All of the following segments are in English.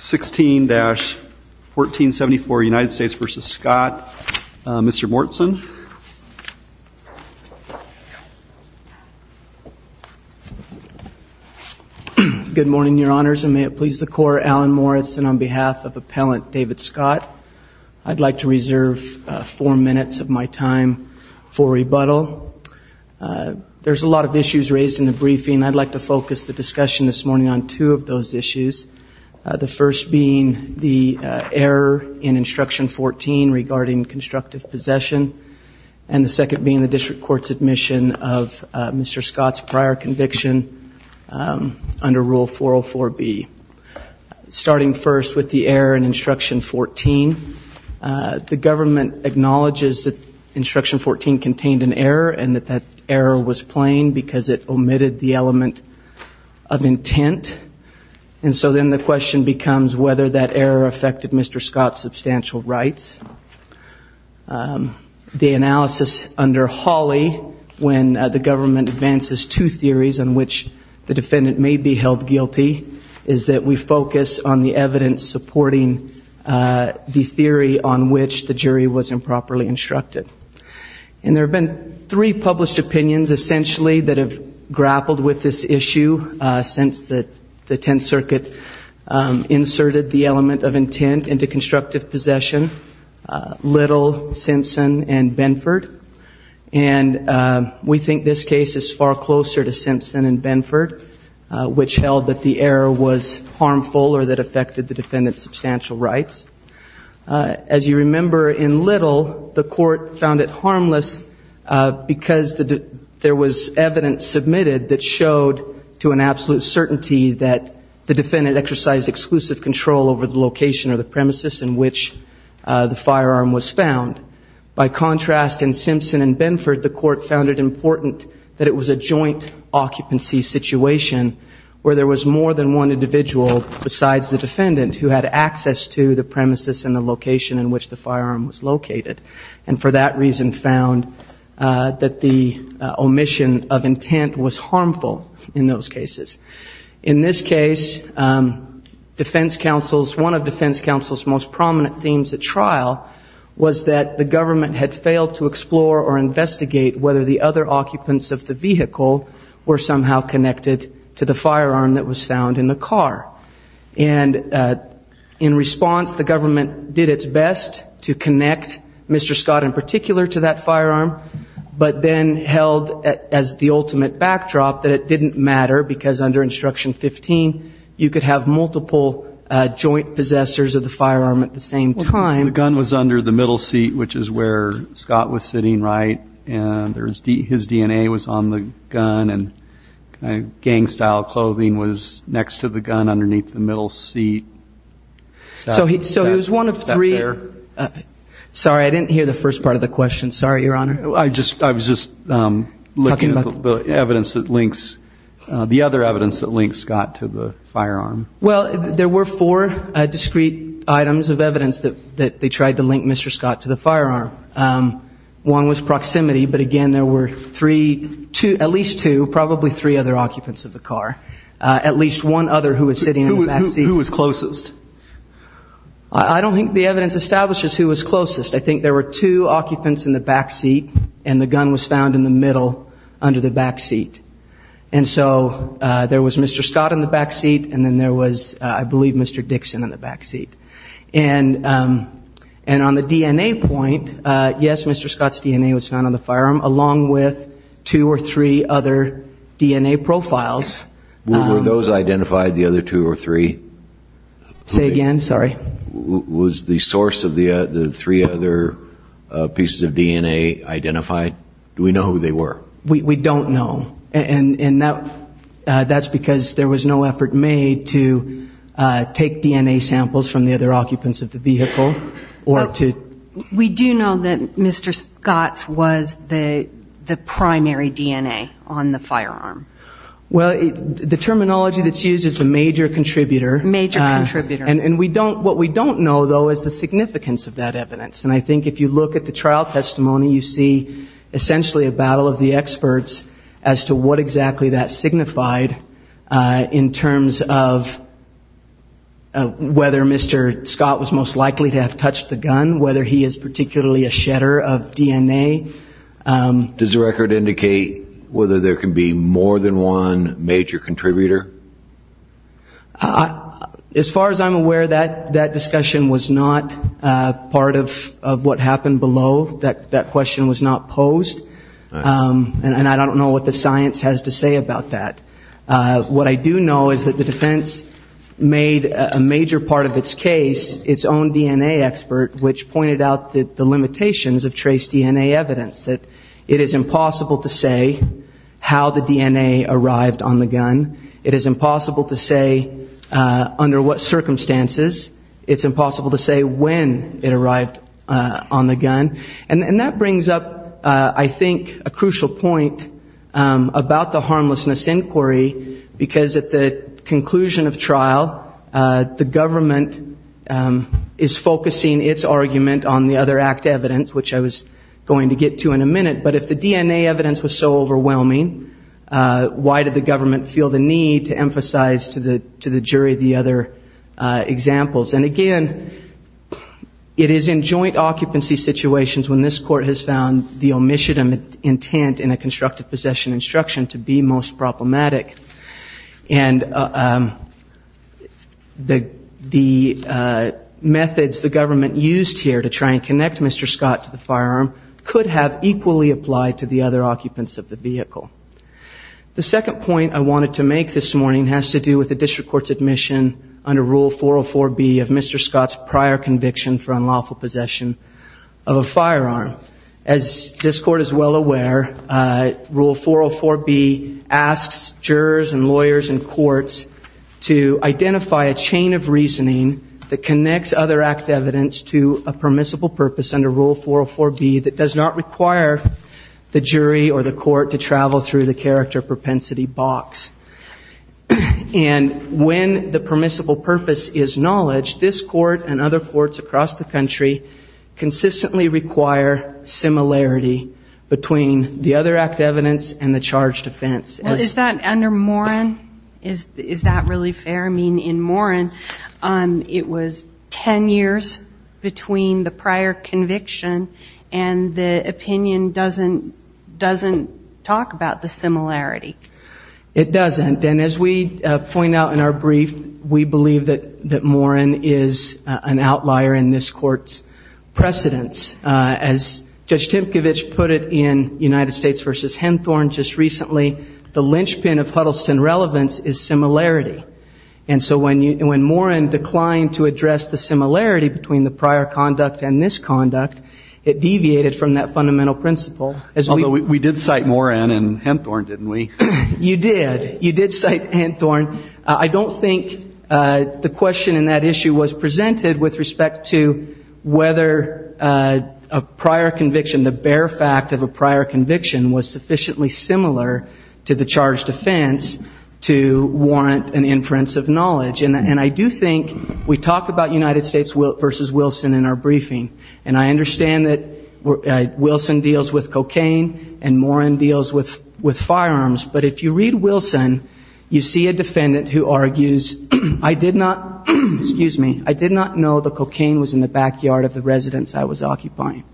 16-1474 United States v. Scott. Mr. Morton. Good morning your honors and may it please the court Alan Moritz and on behalf of appellant David Scott I'd like to reserve four minutes of my time for rebuttal. There's a lot of issues raised in the briefing I'd like to focus the discussion this morning on two of those issues. The first being the error in instruction 14 regarding constructive possession and the second being the district courts admission of Mr. Scott's prior conviction under rule 404 B. Starting first with the error in instruction 14 the government acknowledges that instruction 14 contained an error and that that error was plain because it omitted the element of intent and so then the question becomes whether that error affected Mr. Scott's substantial rights. The analysis under Hawley when the government advances two theories on which the defendant may be held guilty is that we focus on the evidence supporting the theory on which the jury was improperly instructed. And there have been three published opinions essentially that have grappled with this issue since that the Tenth Circuit inserted the element of intent into constructive possession. Little, Simpson and Benford and we think this case is far closer to Simpson and Benford which held that the error was harmful or that affected the defendant's substantial rights. As you remember in Little the court found it harmless because the there was evidence submitted that showed to an absolute certainty that the defendant exercised exclusive control over the location or the premises in which the firearm was found. By contrast in Simpson and Benford the court found it important that it was a joint occupancy situation where there was more than one individual besides the defendant who had access to the premises and the location in which the firearm was located and for that reason found that the omission of intent was harmful in those cases. In this case defense counsel's one of defense counsel's most prominent themes at trial was that the government had failed to explore or investigate whether the other occupants of the vehicle were somehow connected to the firearm that was found in the car and in response the government did its best to connect Mr. Scott in particular to that firearm but then held as the ultimate backdrop that it didn't matter because under instruction 15 you could have multiple joint possessors of the firearm at the same time. The gun was under the middle seat which is where the gun was and gang style clothing was next to the gun underneath the middle seat. So he was one of three. Sorry I didn't hear the first part of the question sorry your honor. I was just looking at the evidence that links the other evidence that links Scott to the firearm. Well there were four discrete items of evidence that that they tried to link Mr. Scott to the firearm. One was at least two probably three other occupants of the car. At least one other who was sitting in the back seat. Who was closest? I don't think the evidence establishes who was closest I think there were two occupants in the back seat and the gun was found in the middle under the back seat. And so there was Mr. Scott in the back seat and then there was I believe Mr. Dixon in the back seat. And on the DNA point yes Mr. Scott's DNA was found on the firearm along with two or three other DNA profiles. Were those identified the other two or three? Say again sorry. Was the source of the the three other pieces of DNA identified? Do we know who they were? We don't know and in that that's because there was no effort made to take DNA samples from the other occupants of the vehicle or to. We do know that Mr. Scott's was the the primary DNA on the firearm. Well the terminology that's used is the major contributor. Major contributor. And we don't what we don't know though is the significance of that evidence and I think if you look at the trial testimony you see essentially a battle of the experts as to what exactly that signified in terms of whether Mr. Scott was most likely to have touched the gun whether he is particularly a shedder of DNA. Does the record indicate whether there can be more than one major contributor? As far as I'm aware that that discussion was not part of what happened below that that question was not posed and I don't know what the science has to say about that. What I do know is that the defense made a major part of its case its own DNA expert which pointed out that the limitations of trace DNA evidence that it is impossible to say how the DNA arrived on the gun. It is impossible to say under what circumstances. It's impossible to say when it arrived on the gun and that brings up I think a crucial point about the harmlessness inquiry because at the conclusion of trial the government is focusing its argument on the other act evidence which I was going to get to in a minute but if the DNA evidence was so overwhelming why did the government feel the need to emphasize to the jury the other examples and again it is in joint occupancy situations when this court has found the omniscient intent in a constructive possession instruction to be most problematic and the methods the government used here to try and connect Mr. Scott to the firearm could have equally applied to the other occupants of the vehicle. The second point I wanted to make this morning has to do with the district court's admission under Rule 404 B of Mr. Scott's prior conviction for unlawful possession of a firearm. As this court is well aware, Rule 404 B asks jurors and lawyers and courts to identify a chain of reasoning that connects other act evidence to a permissible purpose under Rule 404 B that does not require the jury or the court to travel through the character propensity box and when the permissible purpose is knowledge this court and other courts across the country consistently require similarity between the other act evidence and the charge defense. Is that under Moran? Is that really fair? I mean in Moran it was 10 years between the prior conviction and the opinion doesn't talk about the similarity. It doesn't and as we point out in our brief we believe that Moran is an outlier in this court's precedence. As Judge Timkovich put it in United States versus Henthorne just recently the linchpin of Huddleston relevance is similarity and so when you when Moran declined to address the similarity between the prior conduct and this conduct it deviated from that fundamental principle. Although we did cite Moran and Henthorne didn't we? You did. You did cite Henthorne. I don't think the question in that issue was presented with respect to whether a prior conviction the bare fact of a prior conviction was sufficiently similar to the charge defense to warrant an inference of knowledge and I do think we talk about United States versus Wilson in our briefing and I understand that Wilson deals with cocaine and Moran deals with it. In Moran you see a defendant who argues I did not, excuse me, I did not know the cocaine was in the backyard of the residence I was occupying.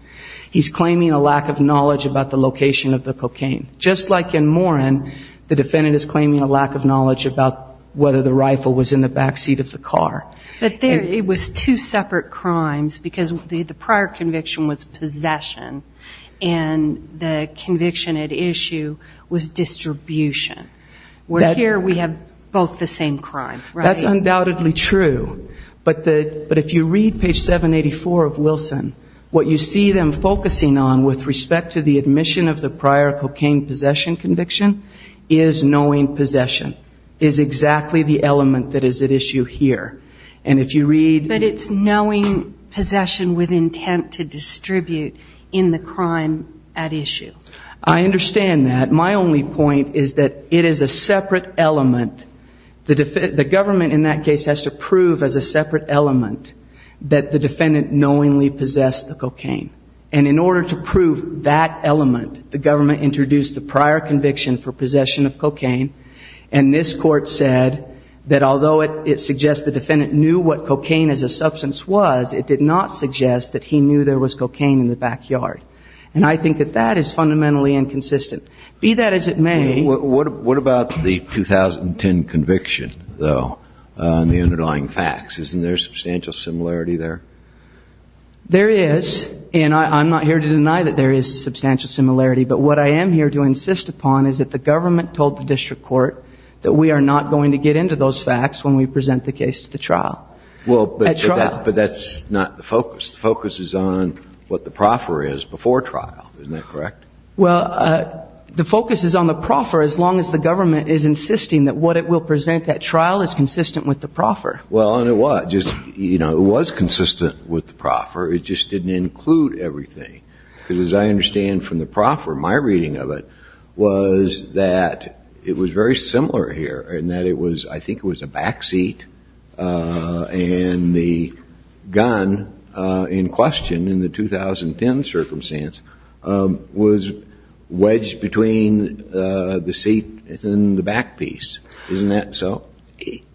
He's claiming a lack of knowledge about the location of the cocaine. Just like in Moran the defendant is claiming a lack of knowledge about whether the rifle was in the backseat of the car. But there it was two separate crimes because the prior conviction was distribution. We're here we have both the same crime. That's undoubtedly true but if you read page 784 of Wilson what you see them focusing on with respect to the admission of the prior cocaine possession conviction is knowing possession is exactly the element that is at issue here and if you read. But it's knowing possession with intent to distribute in the crime at issue. I understand that. My only point is that it is a separate element. The government in that case has to prove as a separate element that the defendant knowingly possessed the cocaine and in order to prove that element the government introduced the prior conviction for possession of cocaine and this court said that although it suggests the defendant knew what cocaine as a substance was it did not suggest that he knew there was cocaine in the backyard and I think that that is fundamentally inconsistent. Be that as it may. What about the 2010 conviction though and the underlying facts? Isn't there substantial similarity there? There is and I'm not here to deny that there is substantial similarity but what I am here to insist upon is that the government told the district court that we are not going to get into those facts when we present the case to the trial. Well but that's not the focus. The focus is on what the proffer is before trial. Isn't that correct? Well the focus is on the proffer as long as the government is insisting that what it will present that trial is consistent with the proffer. Well and it was just you know it was consistent with the proffer it just didn't include everything because as I understand from the proffer my reading of it was that it was very similar here and that it was I believe the gun in question in the 2010 circumstance was wedged between the seat and the back piece. Isn't that so?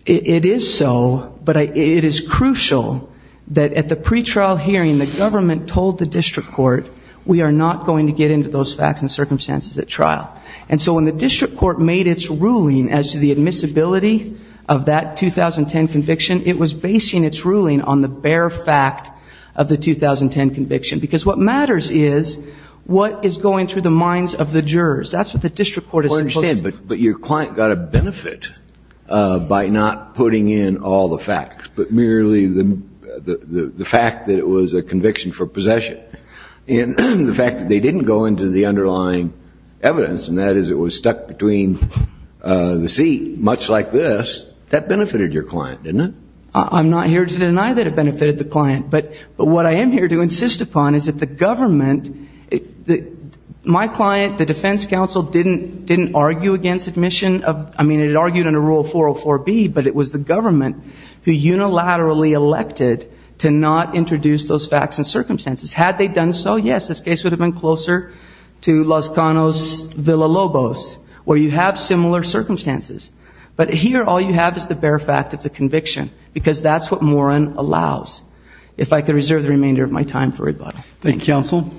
It is so but it is crucial that at the pre-trial hearing the government told the district court we are not going to get into those facts and circumstances at trial. And so when the district court made its ruling as to the admissibility of that 2010 conviction it was basing its ruling on the bare fact of the 2010 conviction. Because what matters is what is going through the minds of the jurors. That's what the district court is supposed to do. Well I understand but your client got a benefit by not putting in all the facts but merely the fact that it was a conviction for possession. And the fact that they didn't go into the underlying evidence and that is it was stuck between the seat much like this that benefited your client didn't it? I'm not here to deny that it benefited the client but what I am here to insist upon is that the government my client the defense counsel didn't argue against admission of I mean it argued under rule 404B but it was the government who unilaterally elected to not introduce those facts and circumstances. Had they done so yes this case would have been closer to Los Canos Villa Lobos where you have similar circumstances but here all you have is the bare fact of the conviction because that's what Moran allows. If I could reserve the remainder of my time for rebuttal. Thank you counsel.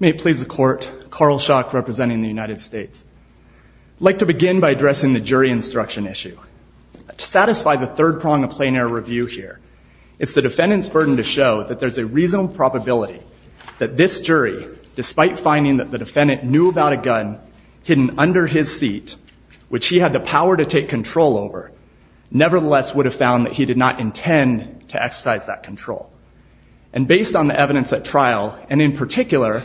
May it please the court. Carl Schock representing the United States. I'd like to begin by addressing the jury instruction issue. To satisfy the third prong of plain air review here it's the defendant's burden to show that there's a reasonable probability that this jury despite finding that the defendant knew about a gun hidden under his seat which he had the power to take control over nevertheless would have found that he did not intend to exercise that control. And based on the evidence at trial and in particular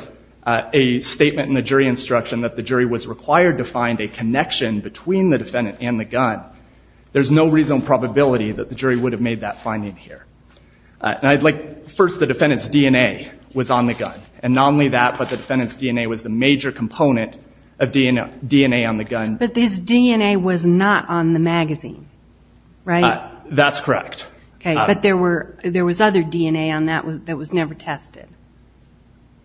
a statement in the jury instruction that the jury was required to find a connection between the defendant and the gun there's no reasonable probability that the jury would have made that finding here. I'd like first the defendant's DNA was on the gun and not only that but the defendant's DNA was not on the magazine, right? That's correct. But there was other DNA on that that was never tested.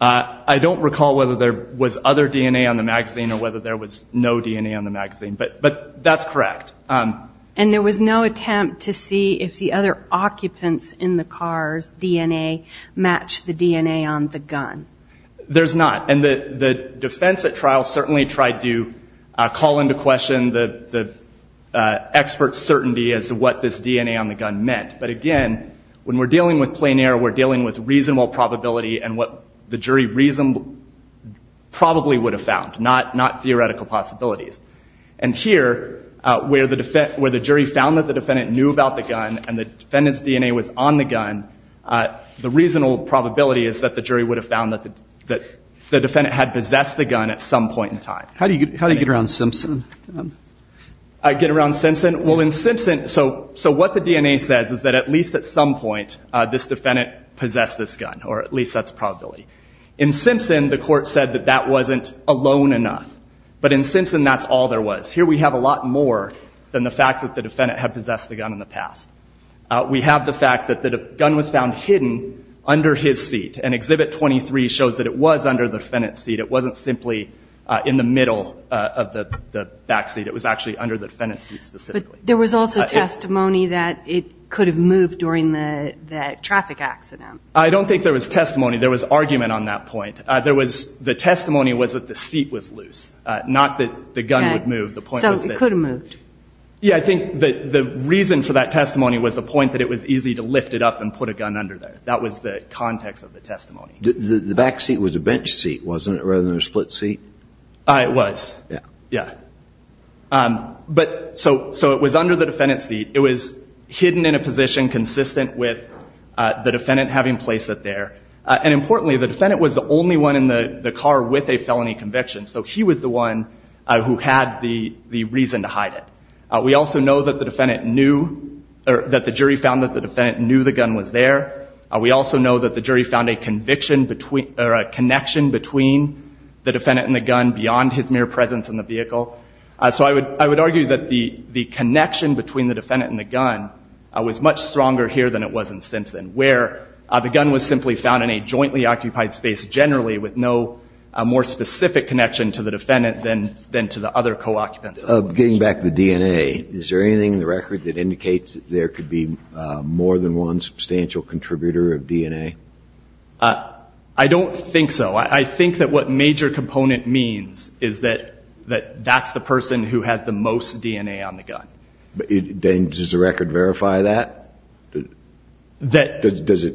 I don't recall whether there was other DNA on the magazine or whether there was no DNA on the magazine but that's correct. And there was no attempt to see if the other occupants in the car's DNA matched the DNA on the gun? There's not and the defense at trial would call into question the expert's certainty as to what this DNA on the gun meant. But again when we're dealing with plein air we're dealing with reasonable probability and what the jury probably would have found, not theoretical possibilities. And here where the jury found that the defendant knew about the gun and the defendant's DNA was on the gun the reasonable probability is that the jury would have found that the defendant had the gun. How do you get around Simpson? I get around Simpson? Well in Simpson, so what the DNA says is that at least at some point this defendant possessed this gun or at least that's probability. In Simpson the court said that that wasn't alone enough. But in Simpson that's all there was. Here we have a lot more than the fact that the defendant had possessed the gun in the past. We have the fact that the gun was found hidden under his seat and Exhibit 23 shows that it was under the defendant's seat. It wasn't simply in the middle of the backseat. It was actually under the defendant's seat specifically. But there was also testimony that it could have moved during the traffic accident. I don't think there was testimony. There was argument on that point. There was, the testimony was that the seat was loose. Not that the gun would move. So it could have moved? Yeah I think the reason for that testimony was the point that it was easy to lift it up and put a gun under there. That was the testimony. The backseat was a bench seat, wasn't it, rather than a split seat? It was. Yeah. But so it was under the defendant's seat. It was hidden in a position consistent with the defendant having placed it there. And importantly the defendant was the only one in the car with a felony conviction. So he was the one who had the reason to hide it. We also know that the defendant knew, that the jury found that the defendant knew the gun was there. We also know that the jury found a conviction between, or a connection between the defendant and the gun beyond his mere presence in the vehicle. So I would argue that the connection between the defendant and the gun was much stronger here than it was in Simpson, where the gun was simply found in a jointly occupied space generally with no more specific connection to the defendant than to the other co-occupants. Getting back to the DNA, is there anything in the record that indicates that there could be more than one substantial contributor of DNA? I don't think so. I think that what major component means is that that's the person who has the most DNA on the gun. Does the record verify that? Does it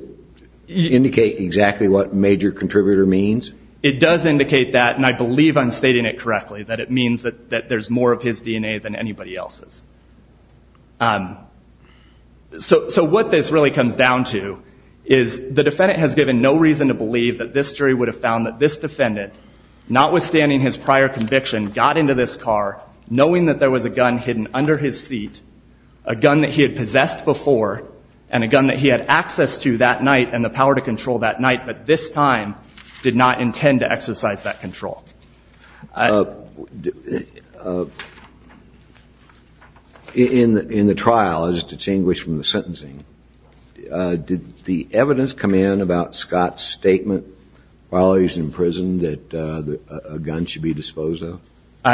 indicate exactly what major contributor means? It does indicate that, and I believe I'm stating it correctly, that it means that there's more of his DNA than anybody else's. So what this really comes down to is the defendant has given no reason to believe that this jury would have found that this defendant, not withstanding his prior conviction, got into this car knowing that there was a gun hidden under his seat, a gun that he had possessed before, and a gun that he had access to that night and the power to control that night, but this time did not intend to exercise that control. In the trial, as distinguished from the sentencing, did the evidence come in about Scott's statement while he was in prison that a gun should be disposed of?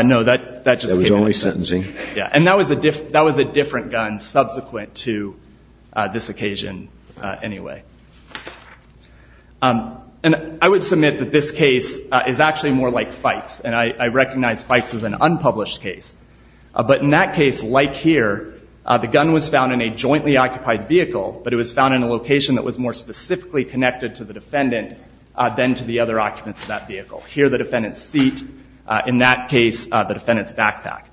No, that just came out of sentencing. That was only sentencing? Yeah, and that was a different gun subsequent to this occasion anyway. And I would submit that this case is actually more like Fikes, and I recognize Fikes as an unpublished case, but in that case, like here, the gun was found in a jointly occupied vehicle, but it was found in a location that was more specifically connected to the defendant than to the other occupants of that vehicle. Here, the defendant's seat. In that case, the defendant's backpack.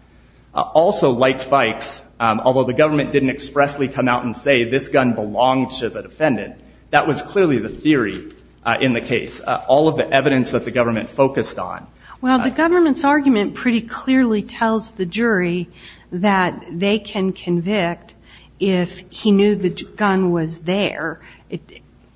Also, like Fikes, although the government didn't expressly come out and say this gun belonged to the defendant, that was clearly the theory in the case. All of the evidence that the government focused on. Well, the government's argument pretty clearly tells the jury that they can convict if he knew the gun was there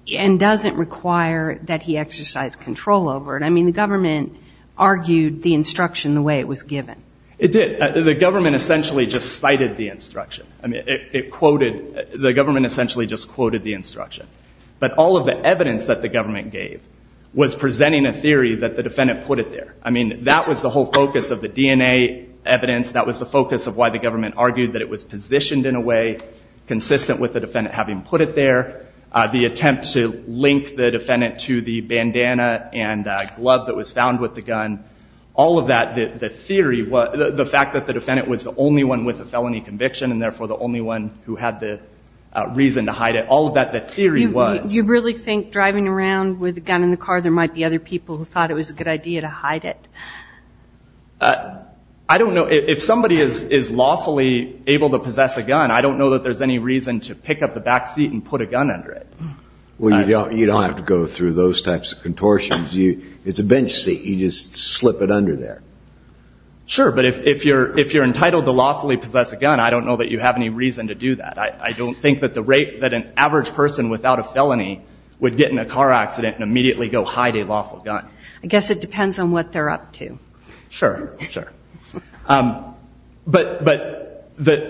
and doesn't require that he exercise control over it. I mean, the government argued the instruction the way it was given. It did. The government essentially just cited the instruction. I mean, it quoted the instruction. But all of the evidence that the government gave was presenting a theory that the defendant put it there. I mean, that was the whole focus of the DNA evidence. That was the focus of why the government argued that it was positioned in a way consistent with the defendant having put it there. The attempt to link the defendant to the bandana and glove that was found with the gun. All of that, the theory, the fact that the defendant was the only one with a felony reason to hide it. All of that, the theory was. You really think driving around with a gun in the car there might be other people who thought it was a good idea to hide it? I don't know. If somebody is lawfully able to possess a gun, I don't know that there's any reason to pick up the back seat and put a gun under it. Well, you don't have to go through those types of contortions. It's a bench seat. You just slip it under there. Sure. But if you're entitled to lawfully possess a gun, I don't know that you have any reason to do that. I don't think that the rate that an average person without a felony would get in a car accident and immediately go hide a lawful gun. I guess it depends on what they're up to. Sure. Sure. But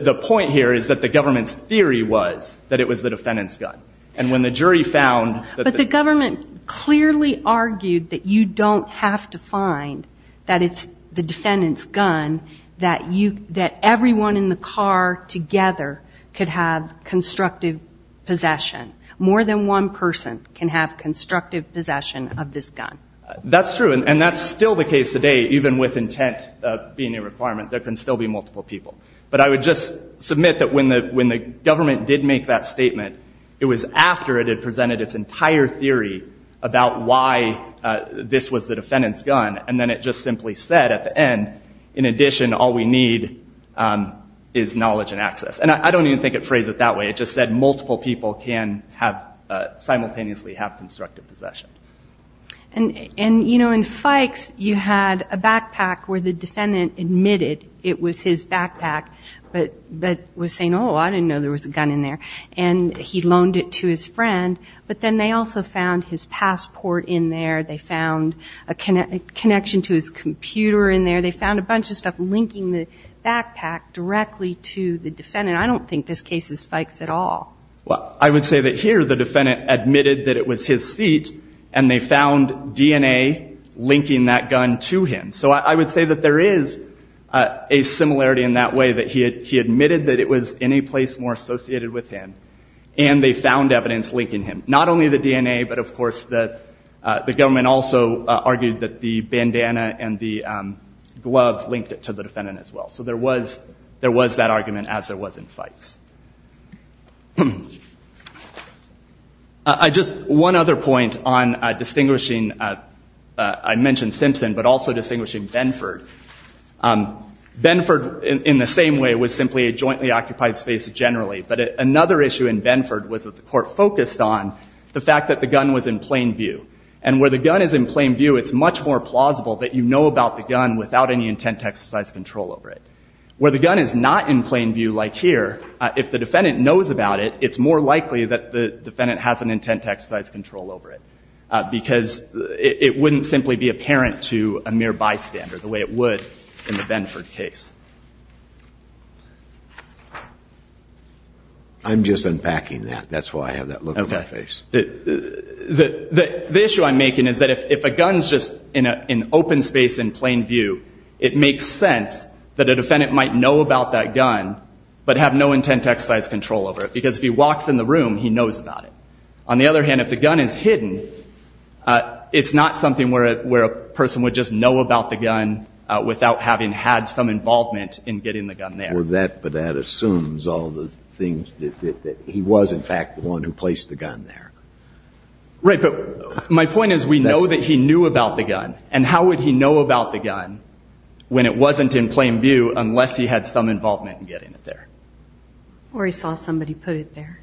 the point here is that the government's theory was that it was the defendant's gun. And when the jury found that the... But the government clearly argued that you don't have to find that it's the defendant's gun, that everyone in the car together could have constructive possession. More than one person can have constructive possession of this gun. That's true. And that's still the case today, even with intent being a requirement. There can still be multiple people. But I would just submit that when the government did make that statement, it was after it had presented its entire theory about why this was the defendant's gun. And then it just simply said at the end, in addition, all we need is knowledge and access. And I don't even think it phrased it that way. It just said multiple people can simultaneously have constructive possession. And in Fikes, you had a backpack where the defendant admitted it was his backpack, but was saying, oh, I didn't know there was a gun in there. And he loaned it to his friend. But then they also found his passport in there. They found a connection to his computer in there. They found a bunch of stuff linking the backpack directly to the defendant. I don't think this case is Fikes at all. Well, I would say that here the defendant admitted that it was his seat, and they found DNA linking that gun to him. So I would say that there is a similarity in that way, that he admitted that it was in a place more associated with him. And they found evidence linking him. Not only the DNA, but, of course, the government also argued that the bandana and the glove linked it to the defendant as well. So there was that argument, as there was in Fikes. Just one other point on distinguishing. I mentioned Simpson, but also distinguishing Benford. Benford, in the same way, was simply a jointly occupied space generally. But another issue in Benford was that the court focused on the fact that the gun was in plain view. And where the gun is in plain view, it's much more plausible that you know about the gun without any intent to exercise control over it. Where the gun is not in plain view, like here, if the defendant knows about it, it's more likely that the defendant has an intent to exercise control over it, because it wouldn't simply be apparent to a mere bystander the way it would in the Benford case. I'm just unpacking that. That's why I have that look on my face. The issue I'm making is that if a gun is just in open space in plain view, it makes sense that a defendant might know about that gun, but have no intent to exercise control over it. Because if he walks in the room, he knows about it. On the other hand, if the gun is hidden, it's not something where a person would just know about the gun without having had some involvement in getting the gun there. But that assumes all the things that he was, in fact, the one who placed the gun there. Right. But my point is we know that he knew about the gun. And how would he know about the gun when it wasn't in plain view unless he had some involvement in getting it there? Or he saw somebody put it there.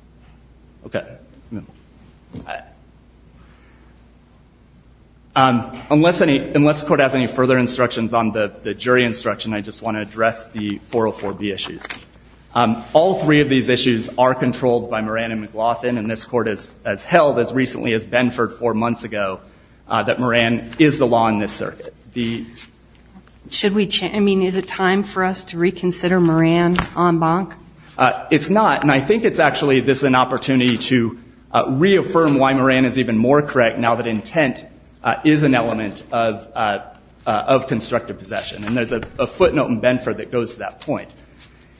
Okay. Unless the Court has any further instructions on the jury instruction, I just want to address the 404B issues. All three of these issues are controlled by Moran and McLaughlin, and this Court has held as recently as Benford four months ago that Moran is the law in this circuit. Should we change? I mean, is it time for us to reconsider Moran en banc? It's not. And I think it's actually this is an opportunity to reaffirm why Moran is even more correct now that intent is an element of constructive possession. And there's a footnote in Benford that goes to that point.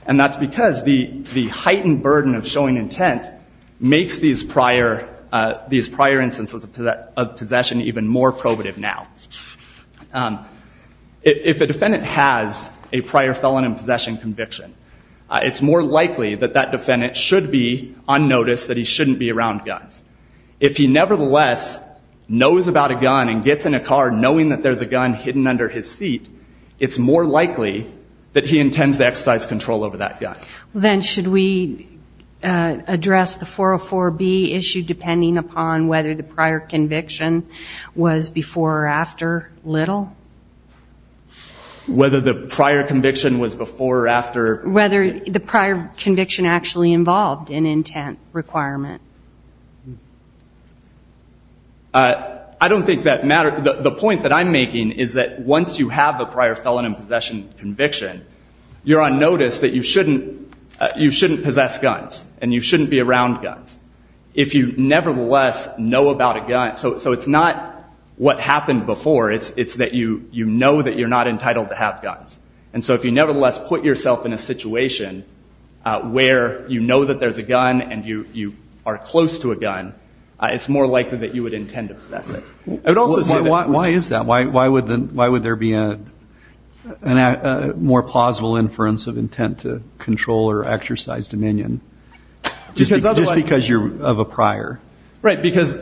And that's because the heightened burden of showing intent makes these prior instances of possession even more probative now. If a defendant has a prior felon in possession conviction, it's more likely that that defendant should be on notice that he shouldn't be around guns. If he nevertheless knows about a gun and gets in a car knowing that there's a gun hidden under his seat, it's more likely that he intends to exercise control over that gun. Then should we address the 404B issue depending upon whether the prior conviction was before or after Little? Whether the prior conviction was before or after? Whether the prior conviction actually involved an intent requirement. I don't think that matters. The point that I'm making is that once you have a prior felon in possession conviction, you're on notice that you shouldn't possess guns and you shouldn't be around guns. If you nevertheless know about a gun, so it's not what happened before, it's that you know that you're not entitled to have guns. And so if you nevertheless put yourself in a situation where you know that there's a gun and you are close to a gun, it's more likely that you would intend to possess it. Why is that? Why would there be a more plausible inference of intent to control or exercise dominion just because you're of a prior? Because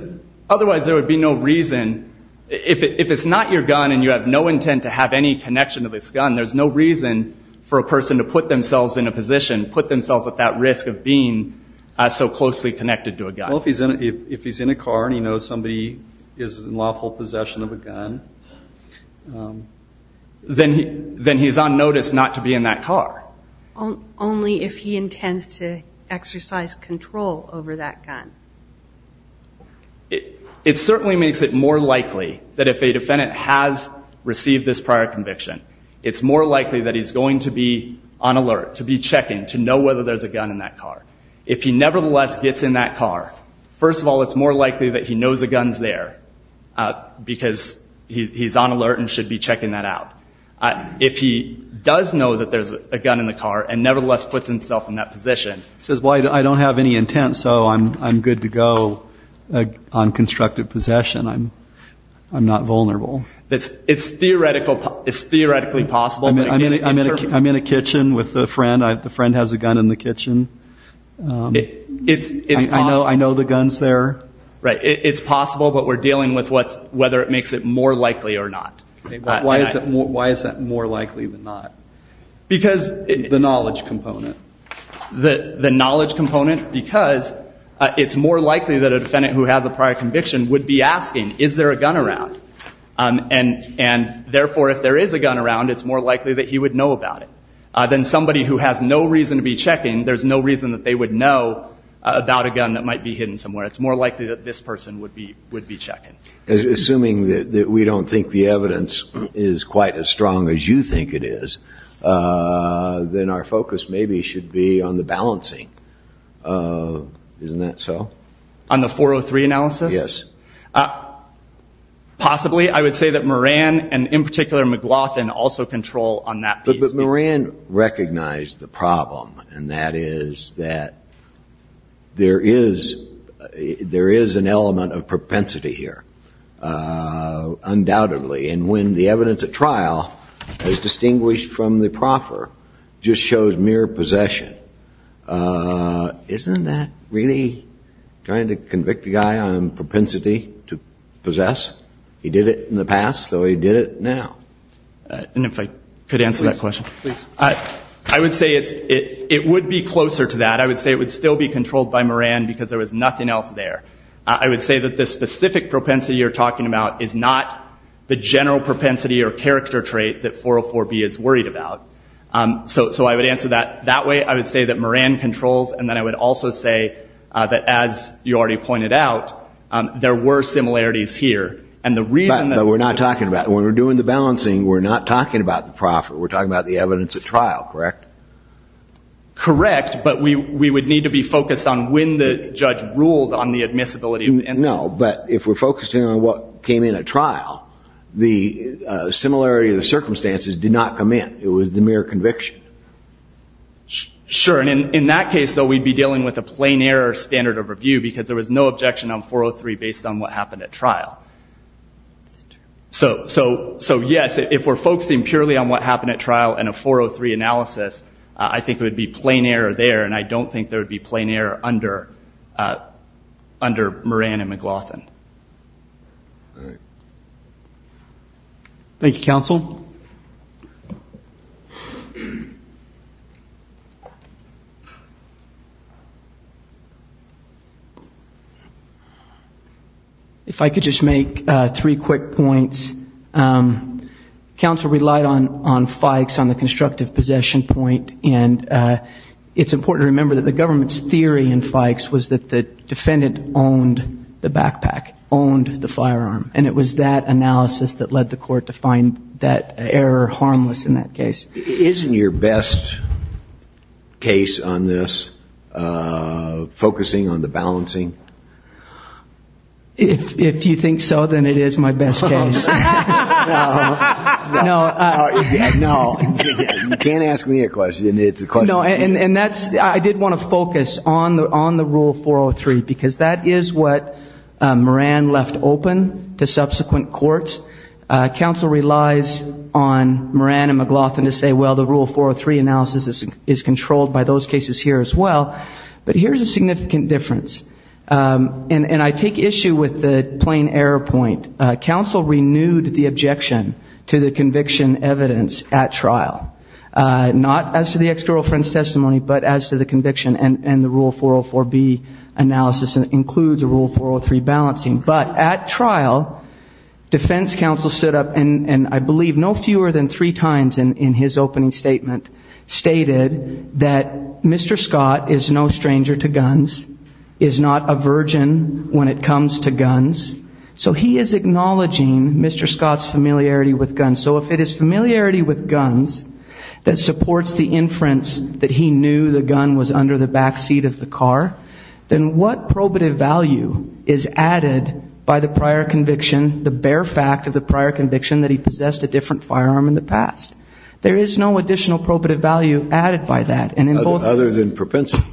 otherwise there would be no reason. If it's not your gun and you have no intent to have any connection to this gun, there's no reason for a person to put themselves in a position, put themselves at that risk of being so closely connected to a gun. Well, if he's in a car and he knows somebody is in lawful possession of a gun. Then he's on notice not to be in that car. Only if he intends to exercise control over that gun. It certainly makes it more likely that if a defendant has received this prior conviction, it's more likely that he's going to be on alert, to be checking, to know whether there's a gun in that car. If he nevertheless gets in that car, first of all, it's more likely that he knows the gun's there because he's on alert and should be checking that out. If he does know that there's a gun in the car and nevertheless puts himself in that position. He says, well, I don't have any intent, so I'm good to go on constructive possession. I'm not vulnerable. It's theoretically possible. I'm in a kitchen with a friend. The friend has a gun in the kitchen. I know the gun's there. Right. It's possible, but we're dealing with whether it makes it more likely or not. Why is that more likely than not? The knowledge component. The knowledge component because it's more likely that a defendant who has a prior conviction would be asking, is there a gun around? Therefore, if there is a gun around, it's more likely that he would know about it. Then somebody who has no reason to be checking, there's no reason that they would know about a gun that might be hidden somewhere. It's more likely that this person would be checking. Assuming that we don't think the evidence is quite as strong as you think it is, then our focus maybe should be on the balancing. Isn't that so? On the 403 analysis? Yes. Possibly. I would say that Moran, and in particular McLaughlin, also control on that piece. But Moran recognized the problem, and that is that there is an element of propensity here, undoubtedly. And when the evidence at trial, as distinguished from the proffer, just shows mere possession, isn't that really trying to convict a guy on propensity to possess? He did it in the past, so he did it now. And if I could answer that question? Please. I would say it would be closer to that. I would say it would still be controlled by Moran because there was nothing else there. I would say that the specific propensity you're talking about is not the general propensity or character trait that 404B is worried about. So I would answer that that way. I would say that Moran controls. And then I would also say that, as you already pointed out, there were similarities here. But we're not talking about that. When we're doing the balancing, we're not talking about the proffer. We're talking about the evidence at trial, correct? Correct, but we would need to be focused on when the judge ruled on the admissibility. No, but if we're focusing on what came in at trial, the similarity of the circumstances did not come in. It was the mere conviction. Sure, and in that case, though, we'd be dealing with a plain error standard of review because there was no objection on 403 based on what happened at trial. So, yes, if we're focusing purely on what happened at trial in a 403 analysis, I think it would be plain error there, and I don't think there would be plain error under Moran and McLaughlin. All right. Thank you, counsel. If I could just make three quick points. Counsel relied on Fikes on the constructive possession point, and it's important to remember that the government's theory in Fikes was that the defendant owned the backpack, owned the firearm, and it was that analysis that led the court to find that error harmless in that case. Isn't your best case on this focusing on the balancing? If you think so, then it is my best case. No. You can't ask me a question. It's a question. No, and I did want to focus on the rule 403 because that is what Moran left open to subsequent courts. Counsel relies on Moran and McLaughlin to say, well, the rule 403 analysis is controlled by those cases here as well. But here's a significant difference, and I take issue with the plain error point. Counsel renewed the objection to the conviction evidence at trial, not as to the ex-girlfriend's testimony, but as to the conviction and the rule 404B analysis that includes a rule 403 balancing. But at trial, defense counsel stood up, and I believe no fewer than three times in his opening statement, stated that Mr. Scott is no stranger to guns, is not a virgin when it comes to guns. So he is acknowledging Mr. Scott's familiarity with guns. So if it is familiarity with guns that supports the inference that he knew the gun was under the backseat of the car, then what probative value is added by the prior conviction, the bare fact of the prior conviction that he possessed a different firearm in the past? There is no additional probative value added by that. Other than propensity.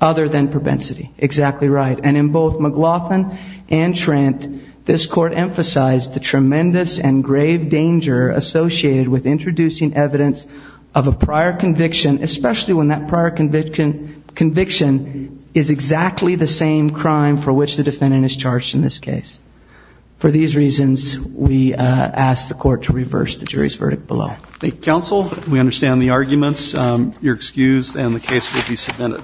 Other than propensity. Exactly right. And in both McLaughlin and Trent, this court emphasized the tremendous and grave danger associated with introducing evidence of a prior conviction, especially when that prior conviction is exactly the same crime for which the defendant is charged in this case. For these reasons, we ask the court to reverse the jury's verdict below. Thank you, counsel. We understand the arguments. You're excused, and the case will be submitted.